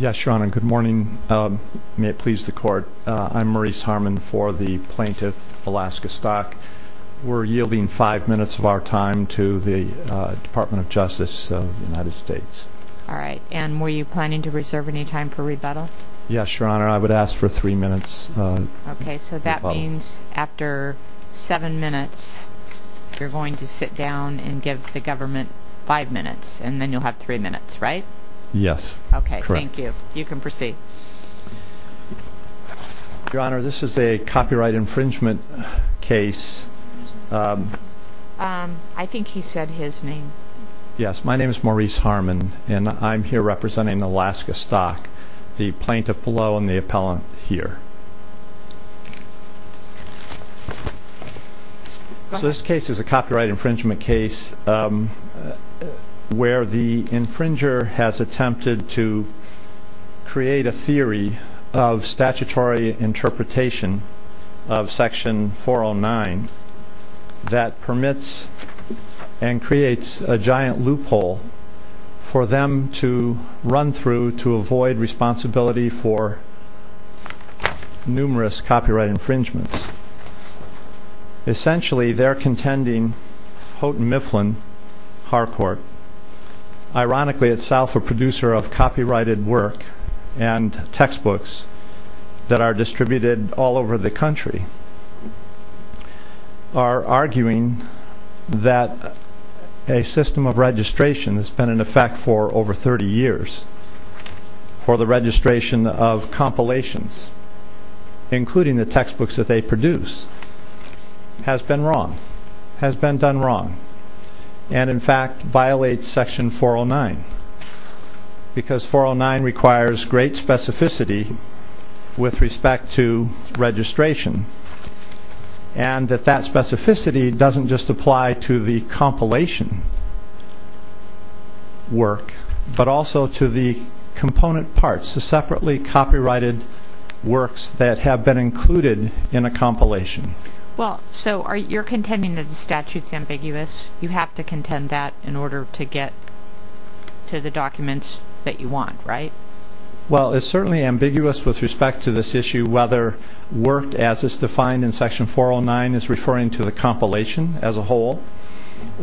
Yes, Your Honor. Good morning. May it please the Court. I'm Maurice Harmon for the plaintiff, Alaska Stock. We're yielding five minutes of our time to the Department of Justice of the United States. All right. And were you planning to reserve any time for rebuttal? Yes, Your Honor. I would ask for three minutes. Okay. So that means after seven minutes, you're going to sit down and give the government five minutes, and then you'll have three minutes, right? Yes. Okay. Thank you. You can proceed. Your Honor, this is a copyright infringement case. I think he said his name. Yes. My name is Maurice Harmon, and I'm here representing Alaska Stock, the plaintiff below and the appellant here. So this case is a copyright infringer has attempted to create a theory of statutory interpretation of Section 409 that permits and creates a giant loophole for them to run through to avoid responsibility for numerous copyright infringements. Essentially, they're contending, Houghton Mifflin, Harcourt, ironically itself a producer of copyrighted work and textbooks that are distributed all over the country, are arguing that a system of registration that's been in effect for over 30 years, for the registration of compilations, including the textbooks that they produce, has been wrong, has been done wrong, and in fact violates Section 409, because 409 requires great specificity with respect to registration, and that that specificity doesn't just apply to the compilation work, but also to the component parts, the separately copyrighted works that have been included in a statute's ambiguous, you have to contend that in order to get to the documents that you want, right? Well, it's certainly ambiguous with respect to this issue, whether work as is defined in Section 409 is referring to the compilation as a whole,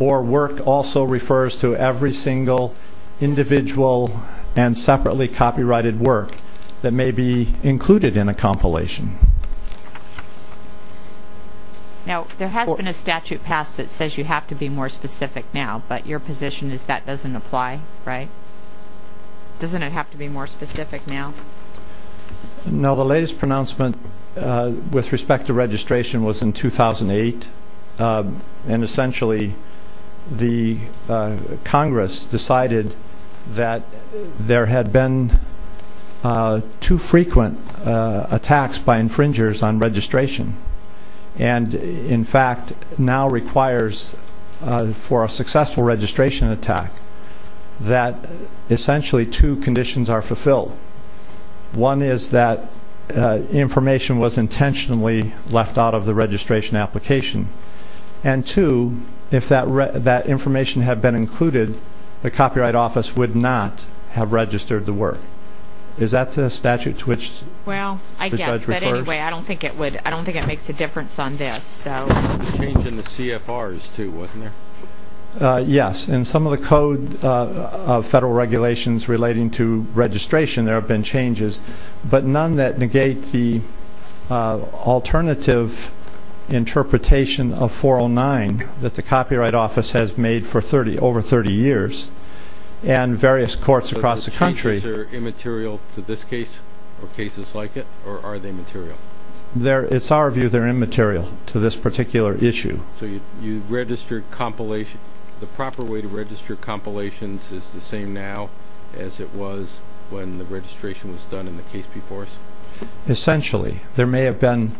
or work also refers to every single individual and separately copyrighted work that may be included in a compilation. Now, there has been a statute passed that says you have to be more specific now, but your position is that doesn't apply, right? Doesn't it have to be more specific now? No, the latest pronouncement with respect to registration was in 2008, and essentially the Congress decided that there had been two frequent attacks by infringers on registration, and in fact now requires for a successful registration attack that essentially two conditions are fulfilled. One is that information was intentionally left out of the registration application, and two, if that information had been included, the Copyright Office would not have registered the work. Is that the statute to which the judge refers? Well, I guess, but anyway, I don't think it would, I don't think it makes a difference on this. There was a change in the CFRs too, wasn't there? Yes, in some of the Code of Federal Regulations relating to registration, there have been changes, but none that negate the alternative interpretation of 409 that the Copyright Office has made for over 30 years, and various courts across the country... So the changes are immaterial to this case, or cases like it, or are they material? It's our view they're immaterial to this particular issue. So you registered compilation, the proper way to register compilations is the same now as it was when the registration was done in the case before us? Essentially. There may have been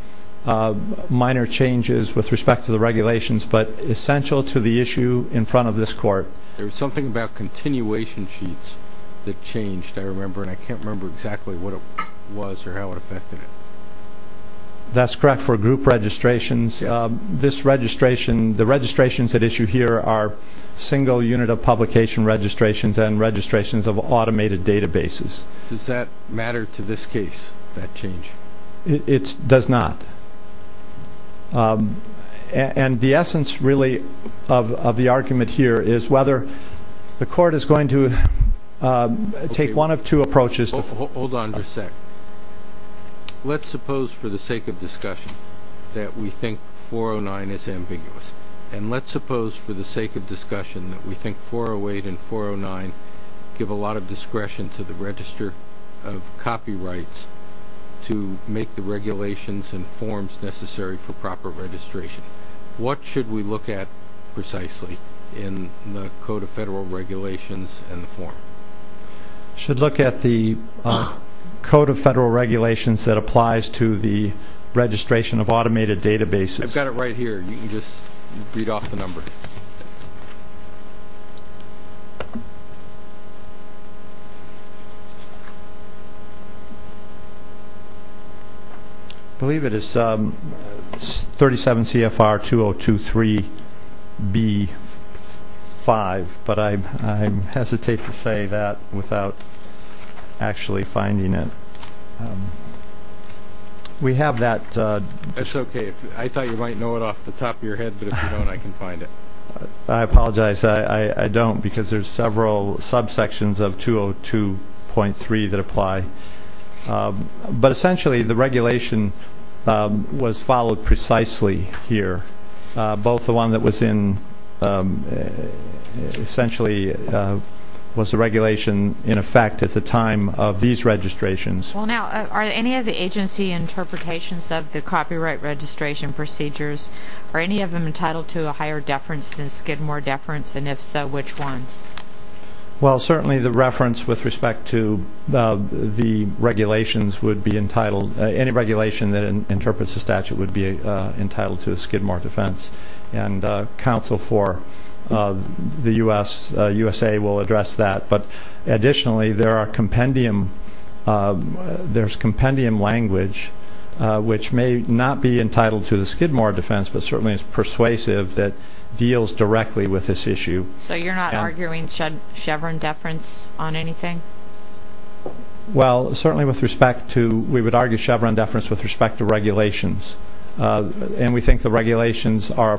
minor changes with respect to the regulations, but essential to the issue in front of this court. There was something about continuation sheets that changed, I remember, and I can't remember exactly what it was or how it affected it. That's correct for group registrations. This registration, the registrations at issue here are single unit of publication registrations and registrations of automated databases. Does that matter to this case, that change? It does not. And the essence really of the argument here is whether the court is going to take one of two approaches... Hold on just a sec. Let's suppose for the sake of discussion that we think 409 is ambiguous, and let's suppose for the sake of discussion that we think to the register of copyrights to make the regulations and forms necessary for proper registration. What should we look at precisely in the Code of Federal Regulations and the form? You should look at the Code of Federal Regulations that applies to the registration of automated databases. I've got it right here. You can just read off the number. I believe it is 37 CFR 2023 B5, but I hesitate to say that without actually finding it. We have that... That's okay. I thought you might know it off the top of your head, but if you don't, I can find it. I apologize. I don't, because there are several subsections of 202.3 that apply. But essentially the regulation was followed precisely here. Both the one that was in essentially was the regulation in effect at the time of these registrations. Well now, are any of the agency interpretations of the copyright registration procedures, are any of them entitled to a higher deference than a Skidmore deference? And if so, which ones? Well, certainly the reference with respect to the regulations would be entitled, any regulation that interprets the statute would be entitled to a Skidmore defense. And counsel for the USA will address that. But additionally, there are compendium, there's compendium language, which may not be entitled to the Skidmore defense, but certainly is persuasive that deals directly with this issue. So you're not arguing Chevron deference on anything? Well, certainly with respect to, we would argue Chevron deference with respect to regulations. And we think the regulations are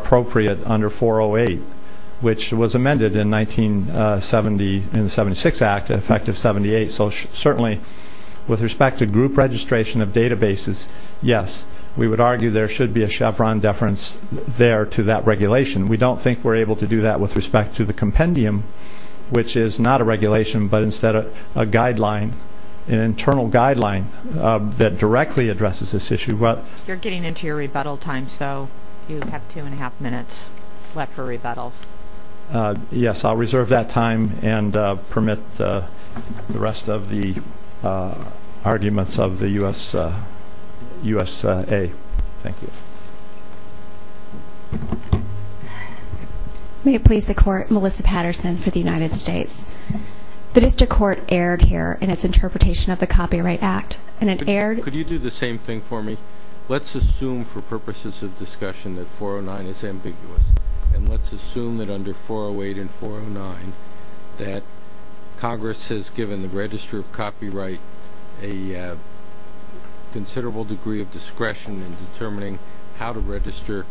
databases, yes. We would argue there should be a Chevron deference there to that regulation. We don't think we're able to do that with respect to the compendium, which is not a regulation, but instead a guideline, an internal guideline that directly addresses this issue. You're getting into your rebuttal time, so you have two and a half minutes left for rebuttals. Yes, I'll reserve that time and permit the rest of the arguments of the USA. Thank you. May it please the court, Melissa Patterson for the United States. The district court erred here in its interpretation of the Copyright Act. And it erred Could you do the same thing for me? Let's assume for purposes of discussion that 409 is ambiguous. And let's assume that under 408 and 409 that Congress has given the register of copyright a considerable degree of discretion in determining how to register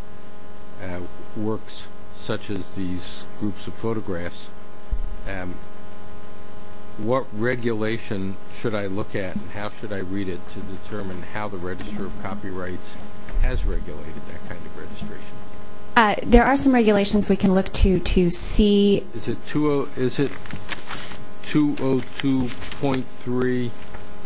works such as these What regulation should I look at and how should I read it to determine how the register of copyrights has regulated that kind of registration? There are some regulations we can look to to see Is it 202.3,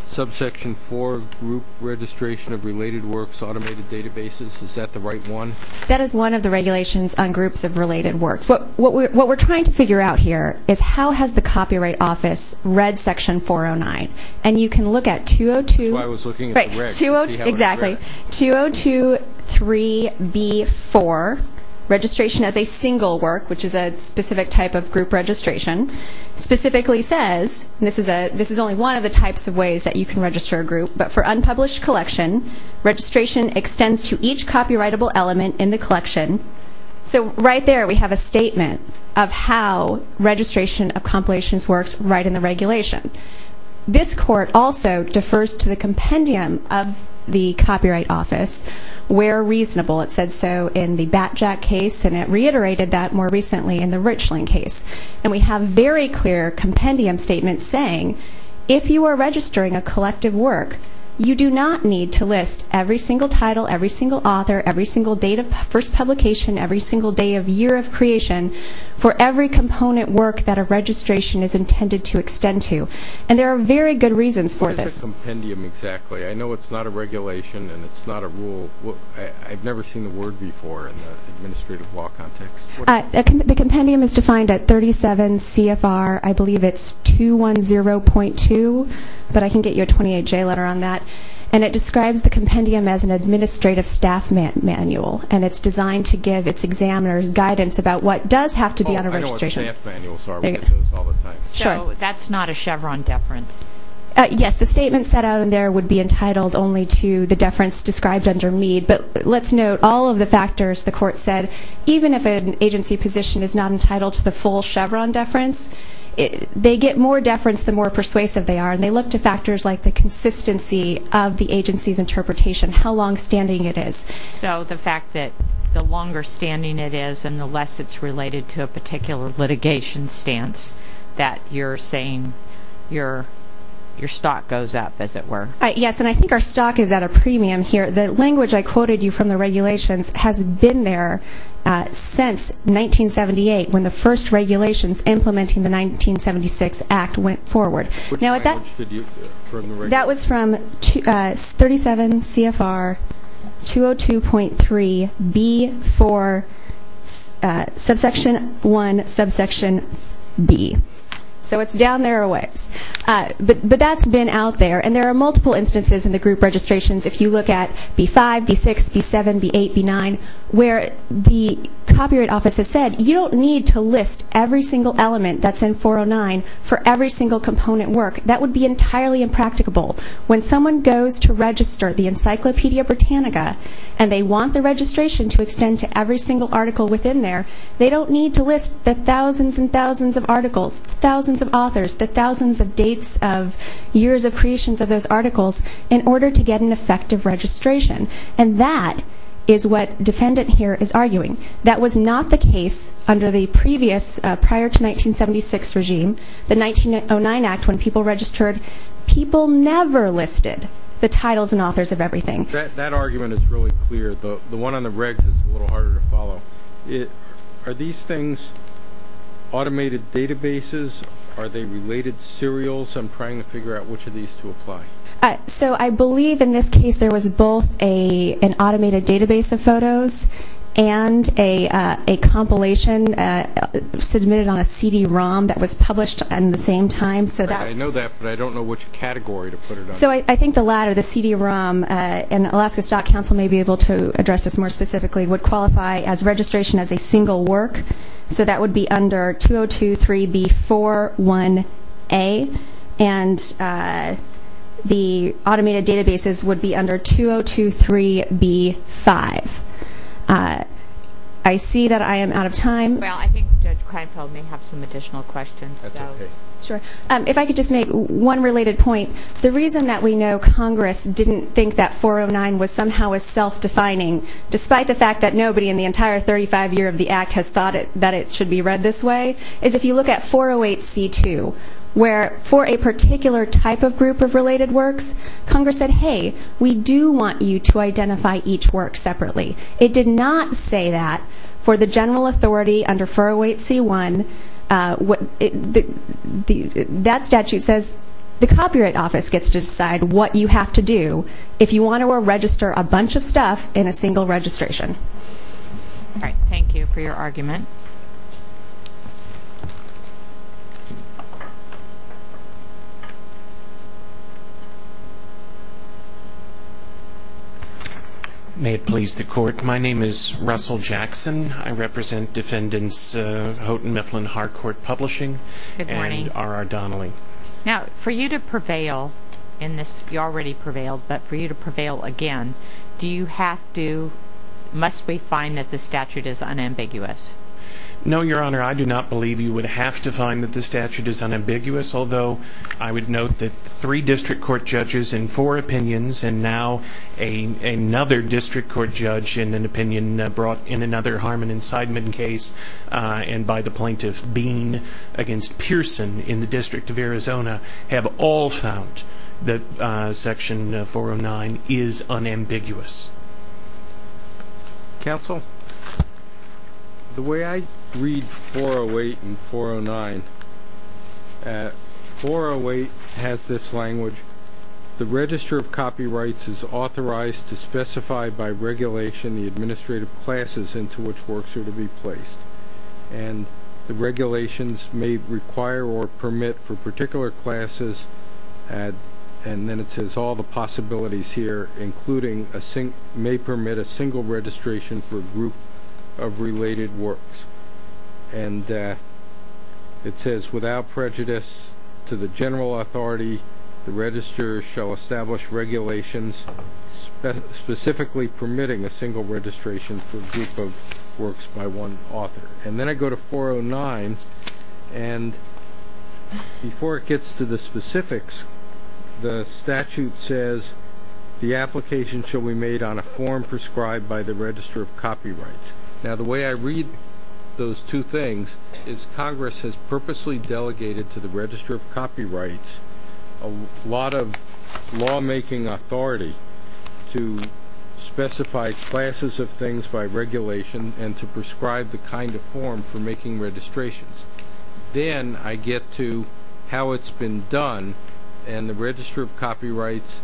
subsection 4, group registration of related works, automated databases? Is that the right one? That is one of the regulations on groups of related works. What we're trying to figure out here is how has the Copyright Office read section 409? And you can look at 202.3b.4, registration as a single work, which is a specific type of group registration, specifically says, and this is only one of the types of ways that you can register a group, but for unpublished collection, registration extends to each copyrightable element in the collection. So right there we have a statement of how registration of compilations works right in the regulation. This court also defers to the compendium of the Copyright Office where reasonable. It said so in the Bat Jack case and it reiterated that more recently in the Richland case. And we have very clear compendium statements saying if you are registering a collective work, you do not need to list every single title, every single author, every single date of first publication, every single day of year of creation for every component work that a registration is intended to extend to. And there are very good reasons for this. What is a compendium exactly? I know it's not a regulation and it's not a rule. I've never seen the word before in the administrative law context. The compendium is defined at 37 CFR. I believe it's 210.2, but I can get you a 28-J letter on that. And it describes the compendium as an administrative staff manual and it's designed to give its examiners guidance about what does have to be on a registration. Oh, I know, a staff manual. Sorry, we get those all the time. So that's not a Chevron deference. Yes, the statement set out in there would be entitled only to the deference described under Mead. But let's note all of the factors the court said, even if an agency position is not entitled to the full Chevron deference, they get more deference the more persuasive they are. And they look to factors like the consistency of the agency's interpretation, how long-standing it is. So the fact that the longer-standing it is and the less it's related to a particular litigation stance that you're saying your stock goes up, as it were. Yes, and I think our stock is at a premium here. The language I quoted you from the regulations has been there since 1978 when the first regulations implementing the 1976 Act went forward. Which language did you get from the regulations? That was from 37 CFR 202.3B4 subsection 1, subsection B. So it's down there a ways. But that's been out there. And there are multiple instances in the group registrations, if you look at B5, B6, B7, B8, B9, where the Copyright Office has said you don't need to list every single element that's in 409 for every single component work. That would be entirely impracticable. When someone goes to register the Encyclopedia Britannica and they want the registration to extend to every single article within there, they don't need to list the thousands and thousands of articles, the thousands of authors, the thousands of dates of years of creations of those articles in order to get an effective registration. And that is what defendant here is arguing. That was not the case under the previous prior to 1976 regime, the 1909 Act, when people registered. People never listed the titles and authors of everything. That argument is really clear. The one on the regs is a little harder to follow. Are these things automated databases? Are they related serials? I'm trying to figure out which of these to apply. So I believe in this case there was both an automated database of photos and a compilation submitted on a CD-ROM that was published at the same time. I know that, but I don't know which category to put it on. So I think the latter, the CD-ROM, and Alaska Stock Council may be able to address this more specifically, would qualify as registration as a single work. So that would be under 202.3.B.4.1.A. And the automated databases would be under 202.3.B.5. I see that I am out of time. Well, I think Judge Kleinfeld may have some additional questions. If I could just make one related point. The reason that we know Congress didn't think that 409 was somehow as self-defining, despite the fact that nobody in the entire 35 year of the Act has thought that it should be read this way, is if you look at 408.C.2, where for a particular type of group of related works, Congress said, hey, we do want you to identify each work separately. It did not say that for the general authority under 408.C.1. That statute says the Copyright Office gets to decide what you have to do if you want to register a bunch of stuff in a single registration. All right. Thank you for your argument. May it please the Court. My name is Russell Jackson. I represent defendants Houghton Mifflin Harcourt Publishing and R.R. Donnelly. Now, for you to prevail in this, you already prevailed, but for you to prevail again, do you have to, must we find that the statute is unambiguous? No, Your Honor. I do not believe you would have to find that the statute is unambiguous, although I would note that three district court judges in four opinions and now another district court judge in an opinion brought in another Harmon and Seidman case and by the plaintiff being against Pearson in the District of Arizona have all found that Section 409 is unambiguous. Counsel, the way I read 408 and 409, 408 has this language, the Register of Copyrights is authorized to specify by regulation the administrative classes into which works are to be placed, and the regulations may require or permit for particular classes, and then it says all the possibilities here, including may permit a single registration for a group of related works, and it says without prejudice to the general authority, the Register shall establish regulations specifically permitting a single registration for a group of works by one author. And then I go to 409, and before it gets to the specifics, the statute says the application shall be made on a form prescribed by the Register of Copyrights. Now, the way I read those two things is Congress has purposely delegated to the Register of Copyrights a lot of lawmaking authority to specify classes of things by regulation and to prescribe the kind of form for making registrations. Then I get to how it's been done, and the Register of Copyrights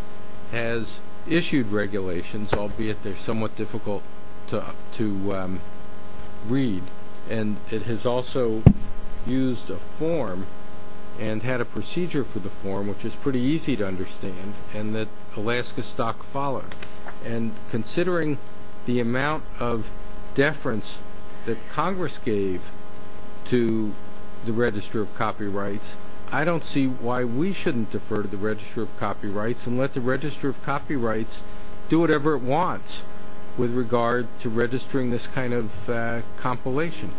has issued regulations, albeit they're somewhat difficult to read, and it has also used a form and had a procedure for the form, which is pretty easy to understand, and that Alaska Stock followed. And considering the amount of deference that Congress gave to the Register of Copyrights, I don't see why we shouldn't defer to the Register of Copyrights and let the Register of Copyrights do whatever it wants with regard to registering this kind of compilation.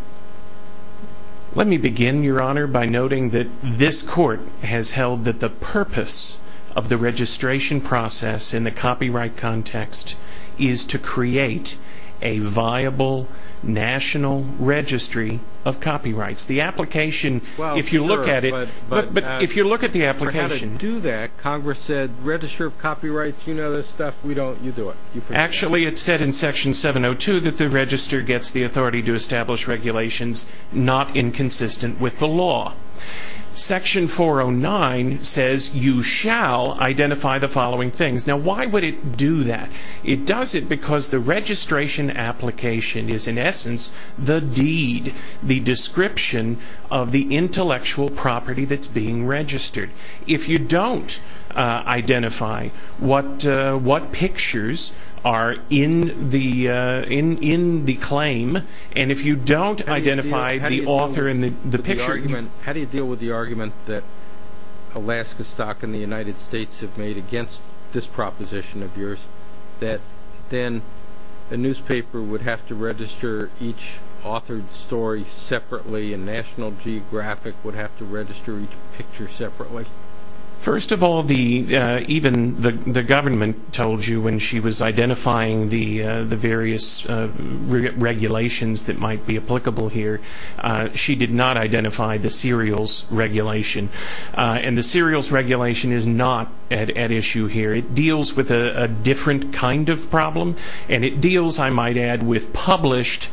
Let me begin, Your Honor, by noting that this Court has held that the purpose of the registration process in the copyright context is to create a viable national registry of copyrights. The application, if you look at it... Well, sure, but... But if you look at the application... For how to do that, Congress said, Register of Copyrights, you know this stuff, we don't, you do it. Actually, it said in Section 702 that the Register gets the authority to establish regulations not inconsistent with the law. Section 409 says you shall identify the following things. Now, why would it do that? It does it because the registration application is, in essence, the deed, the description of the intellectual property that's being registered. If you don't identify what pictures are in the claim, and if you don't identify the author and the picture... How do you deal with the argument that Alaska Stock and the United States have made against this proposition of yours, that then a newspaper would have to register each authored story separately and National Geographic would have to register each picture separately? First of all, even the government told you when she was identifying the various regulations that might be applicable here, she did not identify the serials regulation. And the serials regulation is not at issue here. It deals with a different kind of problem, and it deals, I might add, with published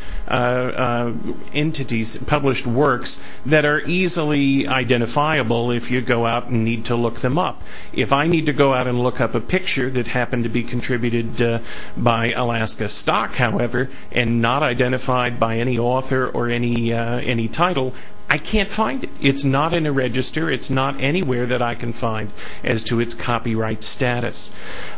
works that are easily identifiable if you go out and need to look them up. If I need to go out and look up a picture that happened to be contributed by Alaska Stock, however, and not identified by any author or any title, I can't find it. It's not in a register. It's not anywhere that I can find as to its copyright status.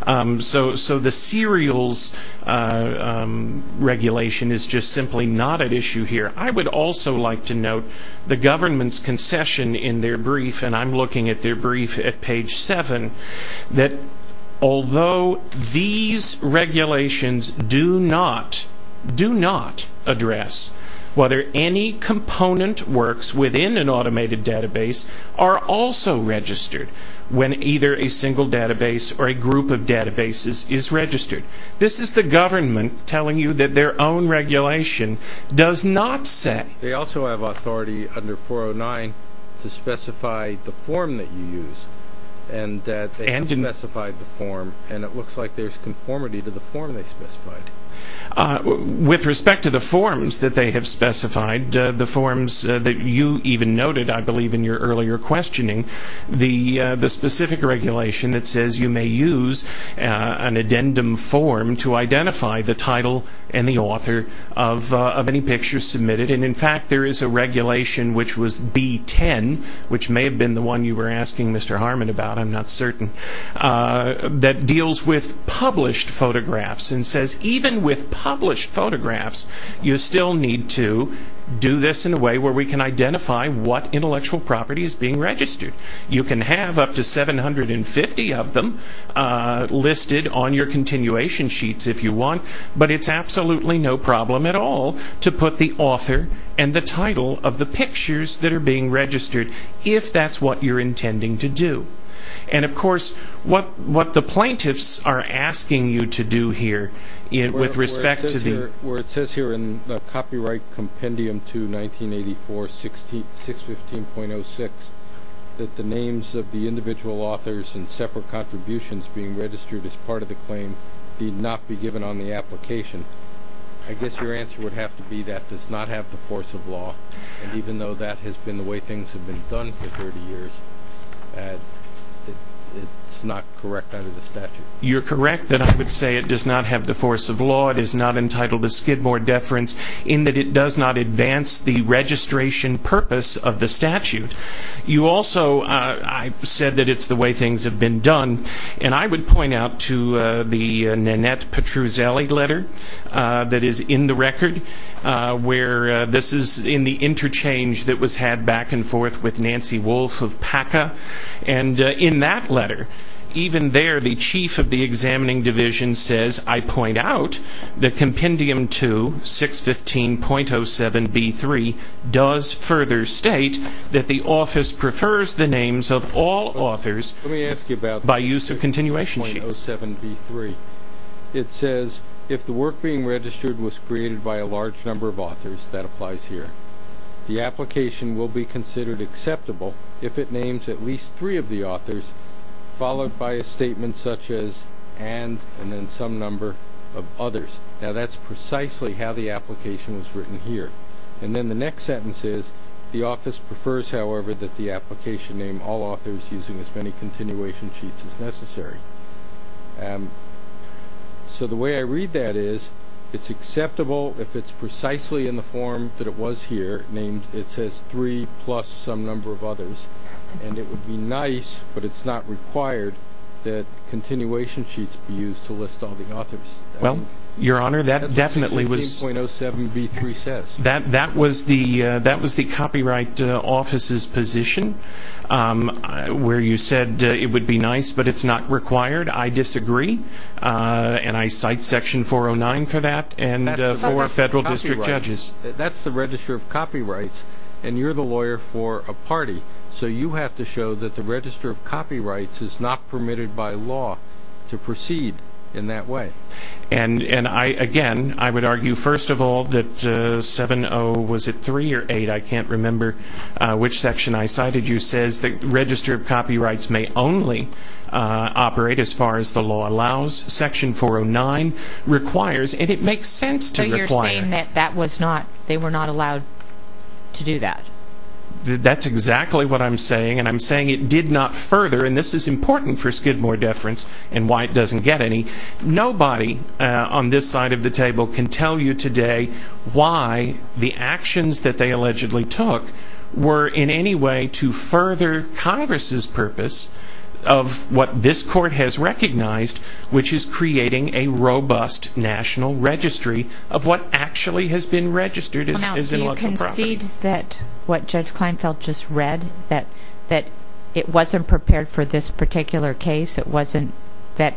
So the serials regulation is just simply not at issue here. I would also like to note the government's concession in their brief, and I'm looking at their brief at page 7, that although these regulations do not address whether any component works within an automated database, are also registered when either a single database or a group of databases is registered. This is the government telling you that their own regulation does not say. They also have authority under 409 to specify the form that you use, and that they have specified the form, and it looks like there's conformity to the form they specified. With respect to the forms that they have specified, the forms that you even noted, I believe, in your earlier questioning, the specific regulation that says you may use an addendum form to identify the title and the author of any picture submitted, and in fact there is a regulation which was B-10, which may have been the one you were asking Mr. Harmon about, I'm not certain, that deals with published photographs and says even with published photographs, you still need to do this in a way where we can identify what intellectual property is being registered. You can have up to 750 of them listed on your continuation sheets if you want, but it's absolutely no problem at all to put the author and the title of the pictures that are being registered, if that's what you're intending to do. And of course, what the plaintiffs are asking you to do here, with respect to the... Where it says here in the copyright compendium to 1984, 615.06, that the names of the individual authors and separate contributions being registered as part of the claim need not be given on the application, I guess your answer would have to be that does not have the force of law, and even though that has been the way things have been done for 30 years, it's not correct under the statute. You're correct that I would say it does not have the force of law, it is not entitled to Skidmore deference, in that it does not advance the registration purpose of the statute. You also said that it's the way things have been done, and I would point out to the Nanette Petruzzelli letter that is in the record, where this is in the interchange that was had back and forth with Nancy Wolf of PACA, and in that letter, even there, the chief of the examining division says, I point out, the compendium to 615.07b3 does further state that the office prefers the names of all authors by use of continuation sheets. Let me ask you about 615.07b3. It says, if the work being registered was created by a large number of authors, that applies here, the application will be considered acceptable if it names at least three of the authors, followed by a statement such as and, and then some number of others. Now, that's precisely how the application was written here. And then the next sentence is, the office prefers, however, that the application name all authors using as many continuation sheets as necessary. So the way I read that is, it's acceptable if it's precisely in the form that it was here, it says three plus some number of others, and it would be nice, but it's not required, that continuation sheets be used to list all the authors. Well, Your Honor, that definitely was. 615.07b3 says. That was the copyright office's position, where you said it would be nice, but it's not required. I disagree. And I cite Section 409 for that, and for federal district judges. That's the Register of Copyrights, and you're the lawyer for a party, so you have to show that the Register of Copyrights is not permitted by law to proceed in that way. And, again, I would argue, first of all, that 70, was it 3 or 8, I can't remember which section I cited, says the Register of Copyrights may only operate as far as the law allows. Section 409 requires, and it makes sense to require. But you're saying that they were not allowed to do that. That's exactly what I'm saying, and I'm saying it did not further, and this is important for Skidmore deference and why it doesn't get any. Nobody on this side of the table can tell you today why the actions that they allegedly took were in any way to further Congress's purpose of what this court has recognized, which is creating a robust national registry of what actually has been registered as intellectual property. Now, do you concede that what Judge Kleinfeld just read, that it wasn't prepared for this particular case?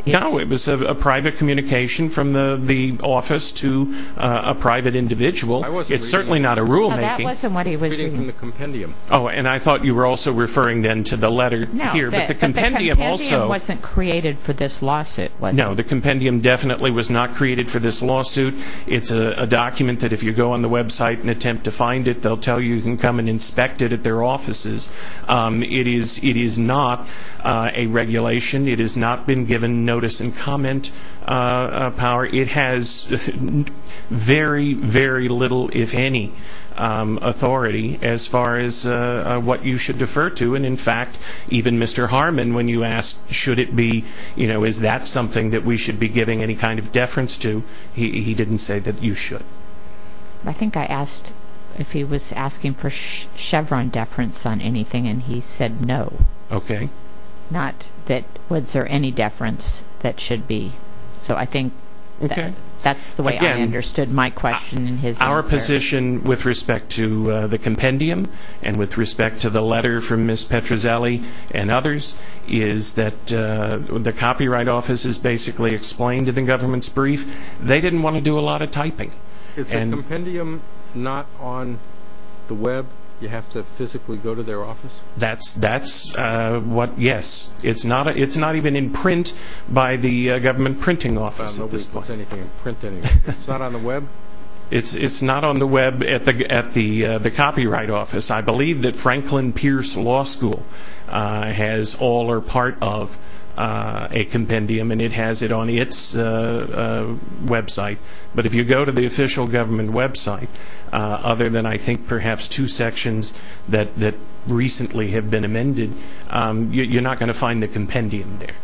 No, it was a private communication from the office to a private individual. It's certainly not a rulemaking. No, that wasn't what he was reading. He was reading from the compendium. Oh, and I thought you were also referring then to the letter here. No, but the compendium wasn't created for this lawsuit, was it? No, the compendium definitely was not created for this lawsuit. It's a document that if you go on the website and attempt to find it, they'll tell you you can come and inspect it at their offices. It is not a regulation. It has not been given notice and comment power. It has very, very little, if any, authority as far as what you should defer to. And, in fact, even Mr. Harmon, when you asked, should it be, you know, is that something that we should be giving any kind of deference to, he didn't say that you should. I think I asked if he was asking for Chevron deference on anything, and he said no. Okay. Not that was there any deference that should be. So I think that's the way I understood my question and his answer. Our position with respect to the compendium and with respect to the letter from Ms. Petruzzelli and others is that the Copyright Office has basically explained to the government's brief they didn't want to do a lot of typing. Is the compendium not on the Web? You have to physically go to their office? That's what, yes. It's not even in print by the Government Printing Office at this point. Nobody puts anything in print anyway. It's not on the Web? It's not on the Web at the Copyright Office. I believe that Franklin Pierce Law School has all or part of a compendium, and it has it on its website. But if you go to the official government website, other than I think perhaps two sections that recently have been amended, you're not going to find the compendium there.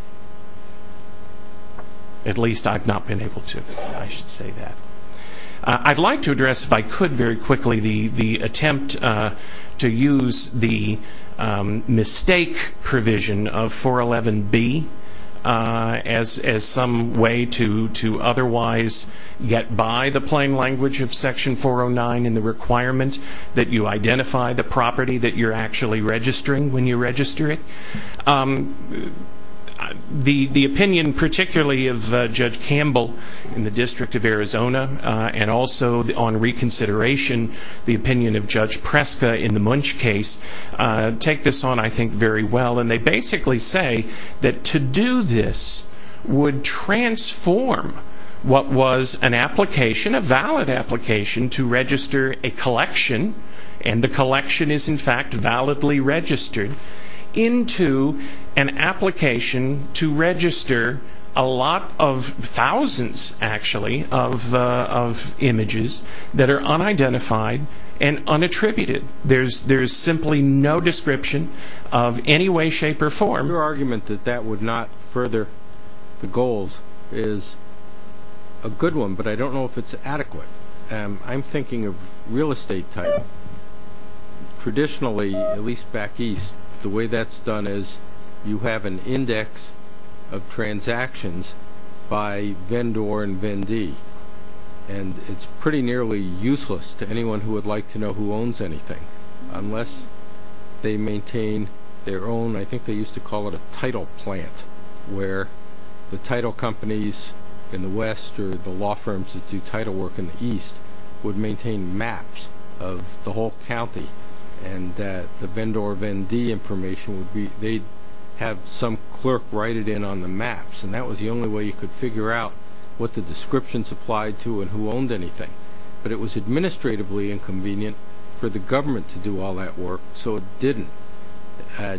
At least I've not been able to. I should say that. I'd like to address, if I could very quickly, the attempt to use the mistake provision of 411B as some way to otherwise get by the plain language of Section 409 and the requirement that you identify the property that you're actually registering when you register it. The opinion, particularly of Judge Campbell in the District of Arizona, and also on reconsideration, the opinion of Judge Preska in the Munch case, take this on, I think, very well. They basically say that to do this would transform what was an application, a valid application, to register a collection, and the collection is in fact validly registered, into an application to register a lot of thousands, actually, of images that are unidentified and unattributed. There's simply no description of any way, shape, or form. Your argument that that would not further the goals is a good one, but I don't know if it's adequate. I'm thinking of real estate title. Traditionally, at least back East, the way that's done is you have an index of transactions by vendor and vendee, and it's pretty nearly useless to anyone who would like to know who owns anything unless they maintain their own, I think they used to call it a title plant, where the title companies in the West or the law firms that do title work in the East would maintain maps of the whole county and the vendor-vendee information would be, they'd have some clerk write it in on the maps, and that was the only way you could figure out what the descriptions applied to and who owned anything. But it was administratively inconvenient for the government to do all that work, so it didn't.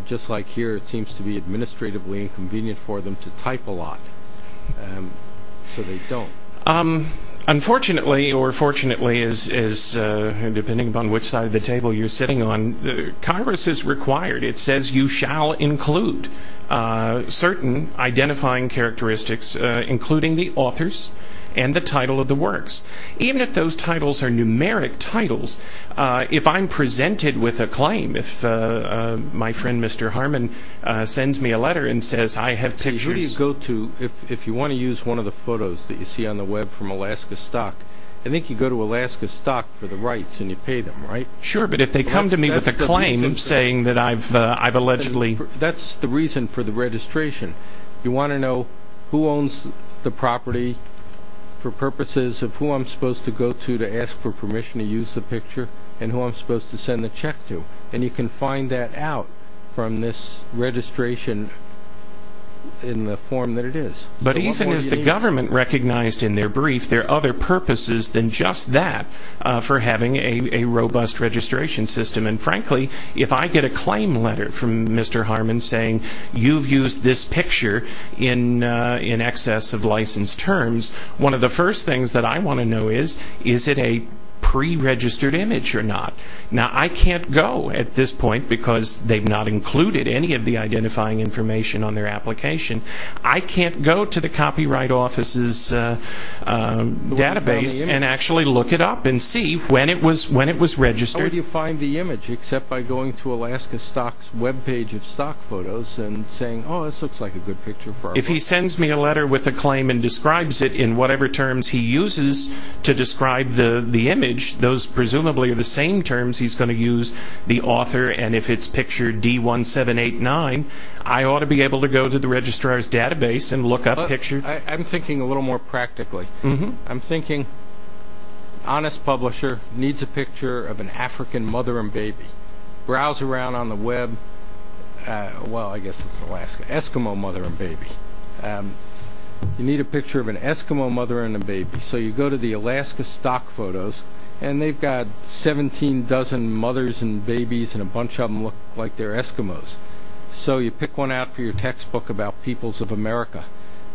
Just like here, it seems to be administratively inconvenient for them to type a lot, so they don't. Unfortunately, or fortunately, depending upon which side of the table you're sitting on, Congress has required, it says, you shall include certain identifying characteristics, including the authors and the title of the works. Even if those titles are numeric titles, if I'm presented with a claim, if my friend Mr. Harmon sends me a letter and says I have pictures I think you go to, if you want to use one of the photos that you see on the web from Alaska Stock, I think you go to Alaska Stock for the rights and you pay them, right? Sure, but if they come to me with a claim saying that I've allegedly That's the reason for the registration. You want to know who owns the property for purposes of who I'm supposed to go to to ask for permission to use the picture and who I'm supposed to send the check to. And you can find that out from this registration in the form that it is. But even is the government recognized in their brief, there are other purposes than just that for having a robust registration system. And frankly, if I get a claim letter from Mr. Harmon saying you've used this picture in excess of license terms, one of the first things that I want to know is, is it a pre-registered image or not? Now, I can't go at this point because they've not included any of the identifying information on their application. I can't go to the Copyright Office's database and actually look it up and see when it was registered. How would you find the image except by going to Alaska Stock's web page of stock photos and saying, oh, this looks like a good picture. If he sends me a letter with a claim and describes it in whatever terms he uses to describe the image, those presumably are the same terms he's going to use the author. And if it's picture D1789, I ought to be able to go to the registrar's database and look up a picture. I'm thinking a little more practically. I'm thinking an honest publisher needs a picture of an African mother and baby. Browse around on the web. Well, I guess it's Alaska. Eskimo mother and baby. You need a picture of an Eskimo mother and a baby. So you go to the Alaska Stock photos, and they've got 17 dozen mothers and babies, and a bunch of them look like they're Eskimos. So you pick one out for your textbook about peoples of America.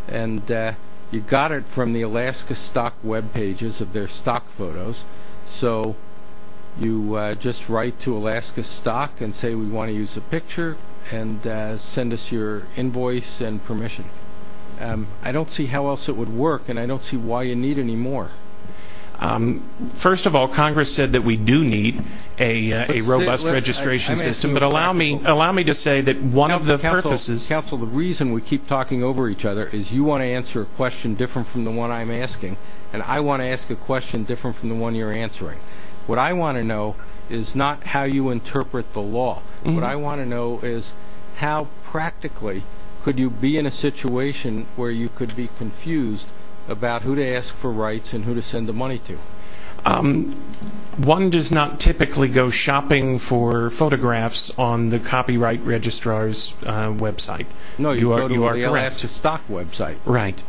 And you got it from the Alaska Stock web pages of their stock photos. So you just write to Alaska Stock and say we want to use the picture and send us your invoice and permission. I don't see how else it would work, and I don't see why you need any more. First of all, Congress said that we do need a robust registration system. But allow me to say that one of the purposes. Counsel, the reason we keep talking over each other is you want to answer a question different from the one I'm asking, and I want to ask a question different from the one you're answering. What I want to know is not how you interpret the law. What I want to know is how practically could you be in a situation where you could be confused about who to ask for rights and who to send the money to. One does not typically go shopping for photographs on the Copyright Registrar's website. No, you go to the Alaska Stock website. Right.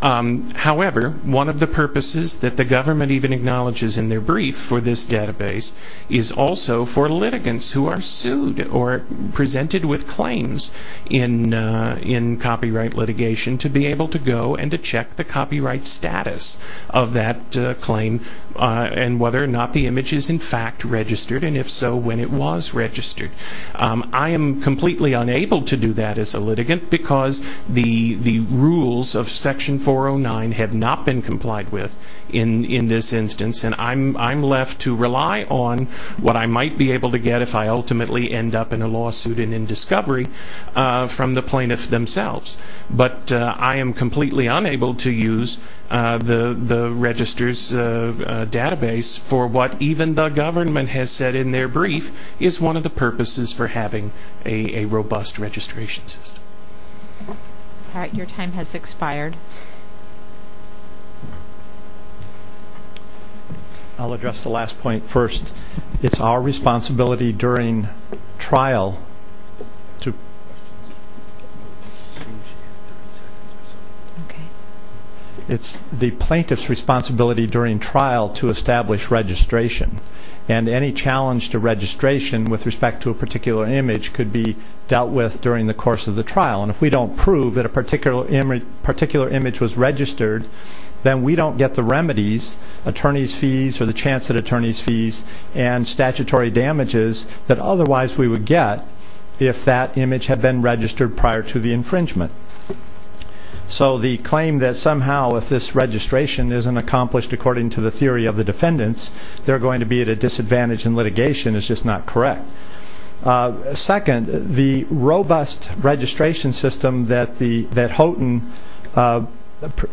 However, one of the purposes that the government even acknowledges in their brief for this database is also for litigants who are sued or presented with claims in copyright litigation to be able to go and to check the copyright status of that claim and whether or not the image is in fact registered, and if so, when it was registered. I am completely unable to do that as a litigant because the rules of Section 409 have not been complied with in this instance, and I'm left to rely on what I might be able to get if I ultimately end up in a lawsuit and in discovery from the plaintiffs themselves. But I am completely unable to use the registrar's database for what even the government has said in their brief is one of the purposes for having a robust registration system. All right, your time has expired. I'll address the last point first. It's our responsibility during trial to... It's the plaintiff's responsibility during trial to establish registration, and any challenge to registration with respect to a particular image could be dealt with during the course of the trial, and if we don't prove that a particular image was registered, then we don't get the remedies, attorney's fees or the chance at attorney's fees, and statutory damages that otherwise we would get if that image had been registered prior to the infringement. So the claim that somehow if this registration isn't accomplished according to the theory of the defendants, they're going to be at a disadvantage in litigation is just not correct. Second, the robust registration system that Houghton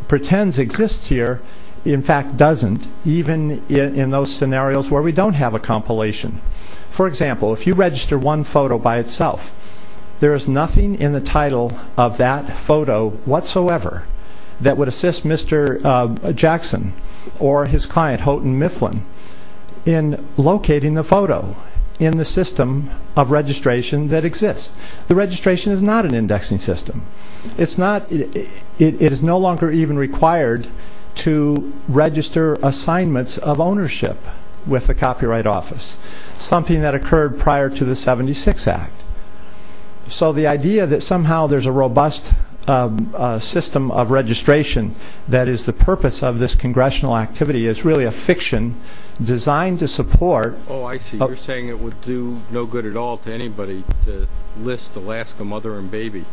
pretends exists here in fact doesn't, even in those scenarios where we don't have a compilation. For example, if you register one photo by itself, there is nothing in the title of that photo whatsoever that would assist Mr. Jackson or his client, Houghton Mifflin, in locating the photo in the system of registration that exists. The registration is not an indexing system. It is no longer even required to register assignments of ownership with the Copyright Office, something that occurred prior to the 76 Act. So the idea that somehow there's a robust system of registration that is the purpose of this congressional activity is really a fiction designed to support. Oh, I see. You're saying it would do no good at all to anybody to list Alaska mother and baby.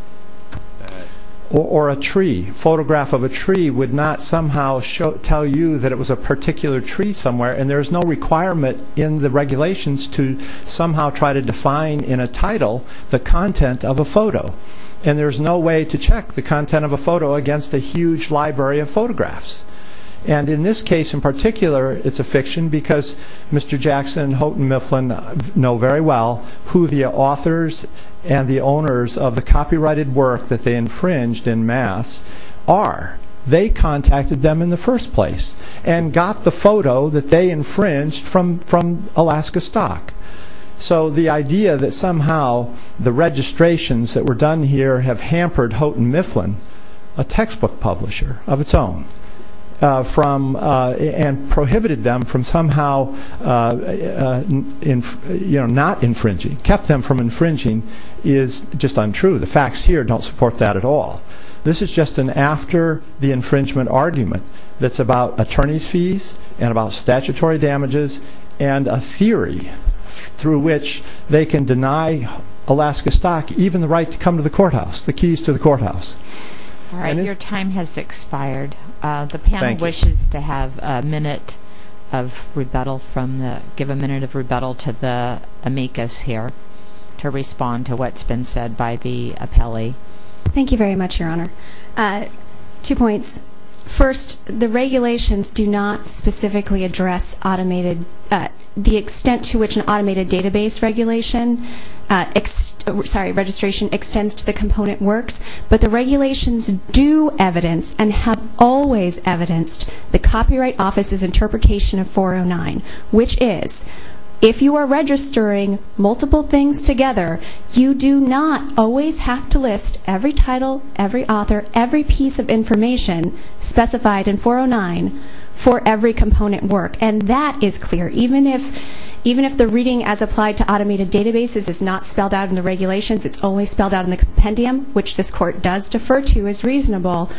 Or a tree. A photograph of a tree would not somehow tell you that it was a particular tree somewhere, and there is no requirement in the regulations to somehow try to define in a title the content of a photo. And there's no way to check the content of a photo against a huge library of photographs. And in this case in particular, it's a fiction because Mr. Jackson and Houghton Mifflin know very well who the authors and the owners of the copyrighted work that they infringed en masse are. They contacted them in the first place and got the photo that they infringed from Alaska Stock. So the idea that somehow the registrations that were done here have hampered Houghton Mifflin, a textbook publisher of its own, and prohibited them from somehow not infringing, kept them from infringing, is just untrue. The facts here don't support that at all. This is just an after-the-infringement argument that's about attorney's fees and about statutory damages and a theory through which they can deny Alaska Stock even the right to come to the courthouse, the keys to the courthouse. All right, your time has expired. The panel wishes to have a minute of rebuttal to the amicus here to respond to what's been said by the appellee. Thank you very much, Your Honor. Two points. First, the regulations do not specifically address the extent to which an automated database registration extends to the component works, but the regulations do evidence and have always evidenced the Copyright Office's interpretation of 409, which is if you are registering multiple things together, you do not always have to list every title, every author, every piece of information specified in 409 for every component work. And that is clear. Even if the reading as applied to automated databases is not spelled out in the regulations, it's only spelled out in the compendium, which this Court does defer to as reasonable.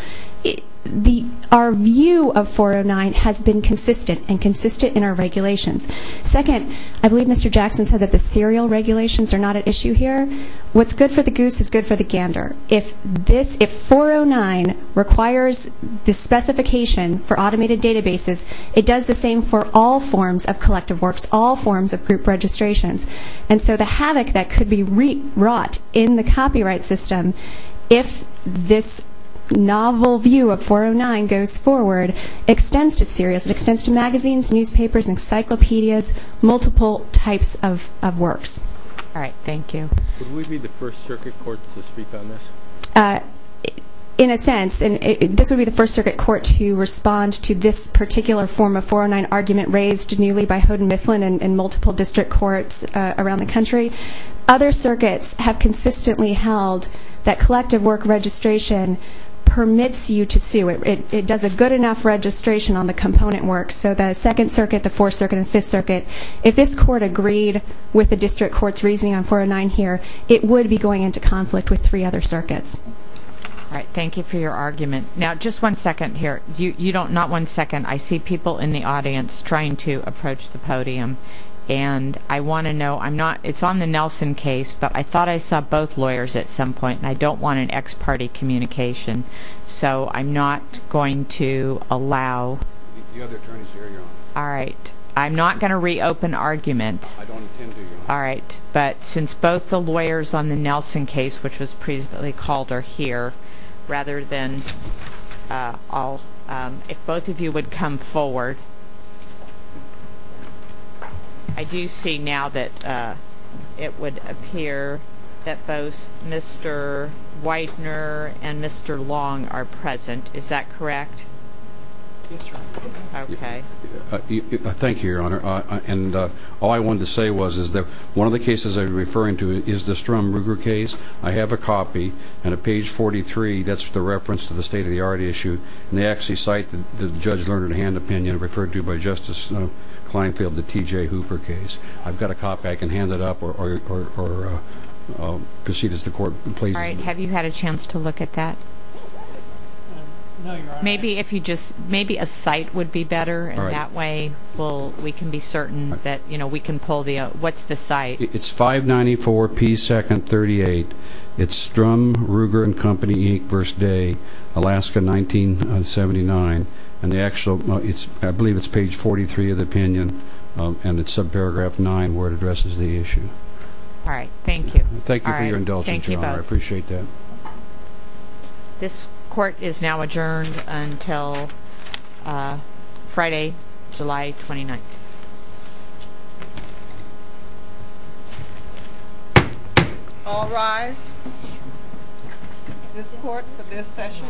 Our view of 409 has been consistent and consistent in our regulations. Second, I believe Mr. Jackson said that the serial regulations are not at issue here. What's good for the goose is good for the gander. If 409 requires the specification for automated databases, it does the same for all forms of collective works, all forms of group registrations. And so the havoc that could be wrought in the copyright system if this novel view of 409 goes forward extends to serials, it extends to magazines, newspapers, encyclopedias, multiple types of works. All right, thank you. Would we be the First Circuit Court to speak on this? In a sense, this would be the First Circuit Court to respond to this particular form of 409 argument raised newly by Houghton Mifflin in multiple district courts around the country. Other circuits have consistently held that collective work registration permits you to sue. It does a good enough registration on the component work. So the Second Circuit, the Fourth Circuit, and the Fifth Circuit, if this Court agreed with the district court's reasoning on 409 here, it would be going into conflict with three other circuits. All right, thank you for your argument. Now, just one second here. Not one second. I see people in the audience trying to approach the podium, and I want to know. It's on the Nelson case, but I thought I saw both lawyers at some point, and I don't want an ex parte communication. So I'm not going to allow. The other attorney is here, Your Honor. All right. I'm not going to reopen argument. I don't intend to, Your Honor. All right. But since both the lawyers on the Nelson case, which was previously called, are here, rather than if both of you would come forward. I do see now that it would appear that both Mr. Widener and Mr. Long are present. Is that correct? Yes, ma'am. Okay. Thank you, Your Honor. And all I wanted to say was is that one of the cases I'm referring to is the Strum-Ruger case. I have a copy, and at page 43, that's the reference to the state of the art issue, and they actually cite the Judge Lerner to hand opinion referred to by Justice Kleinfeld, the T.J. Hooper case. I've got a copy. I can hand it up or proceed as the court pleases. All right. Have you had a chance to look at that? No, Your Honor. Maybe if you just – maybe a cite would be better, and that way we can be certain that we can pull the – what's the cite? It's 594 P. 2nd, 38. It's Strum-Ruger and Company, verse A, Alaska, 1979. And the actual – I believe it's page 43 of the opinion, and it's subparagraph 9 where it addresses the issue. All right. Thank you. Thank you for your indulgence, Your Honor. Thank you both. I appreciate that. This court is now adjourned until Friday, July 29th. All rise. This court for this session.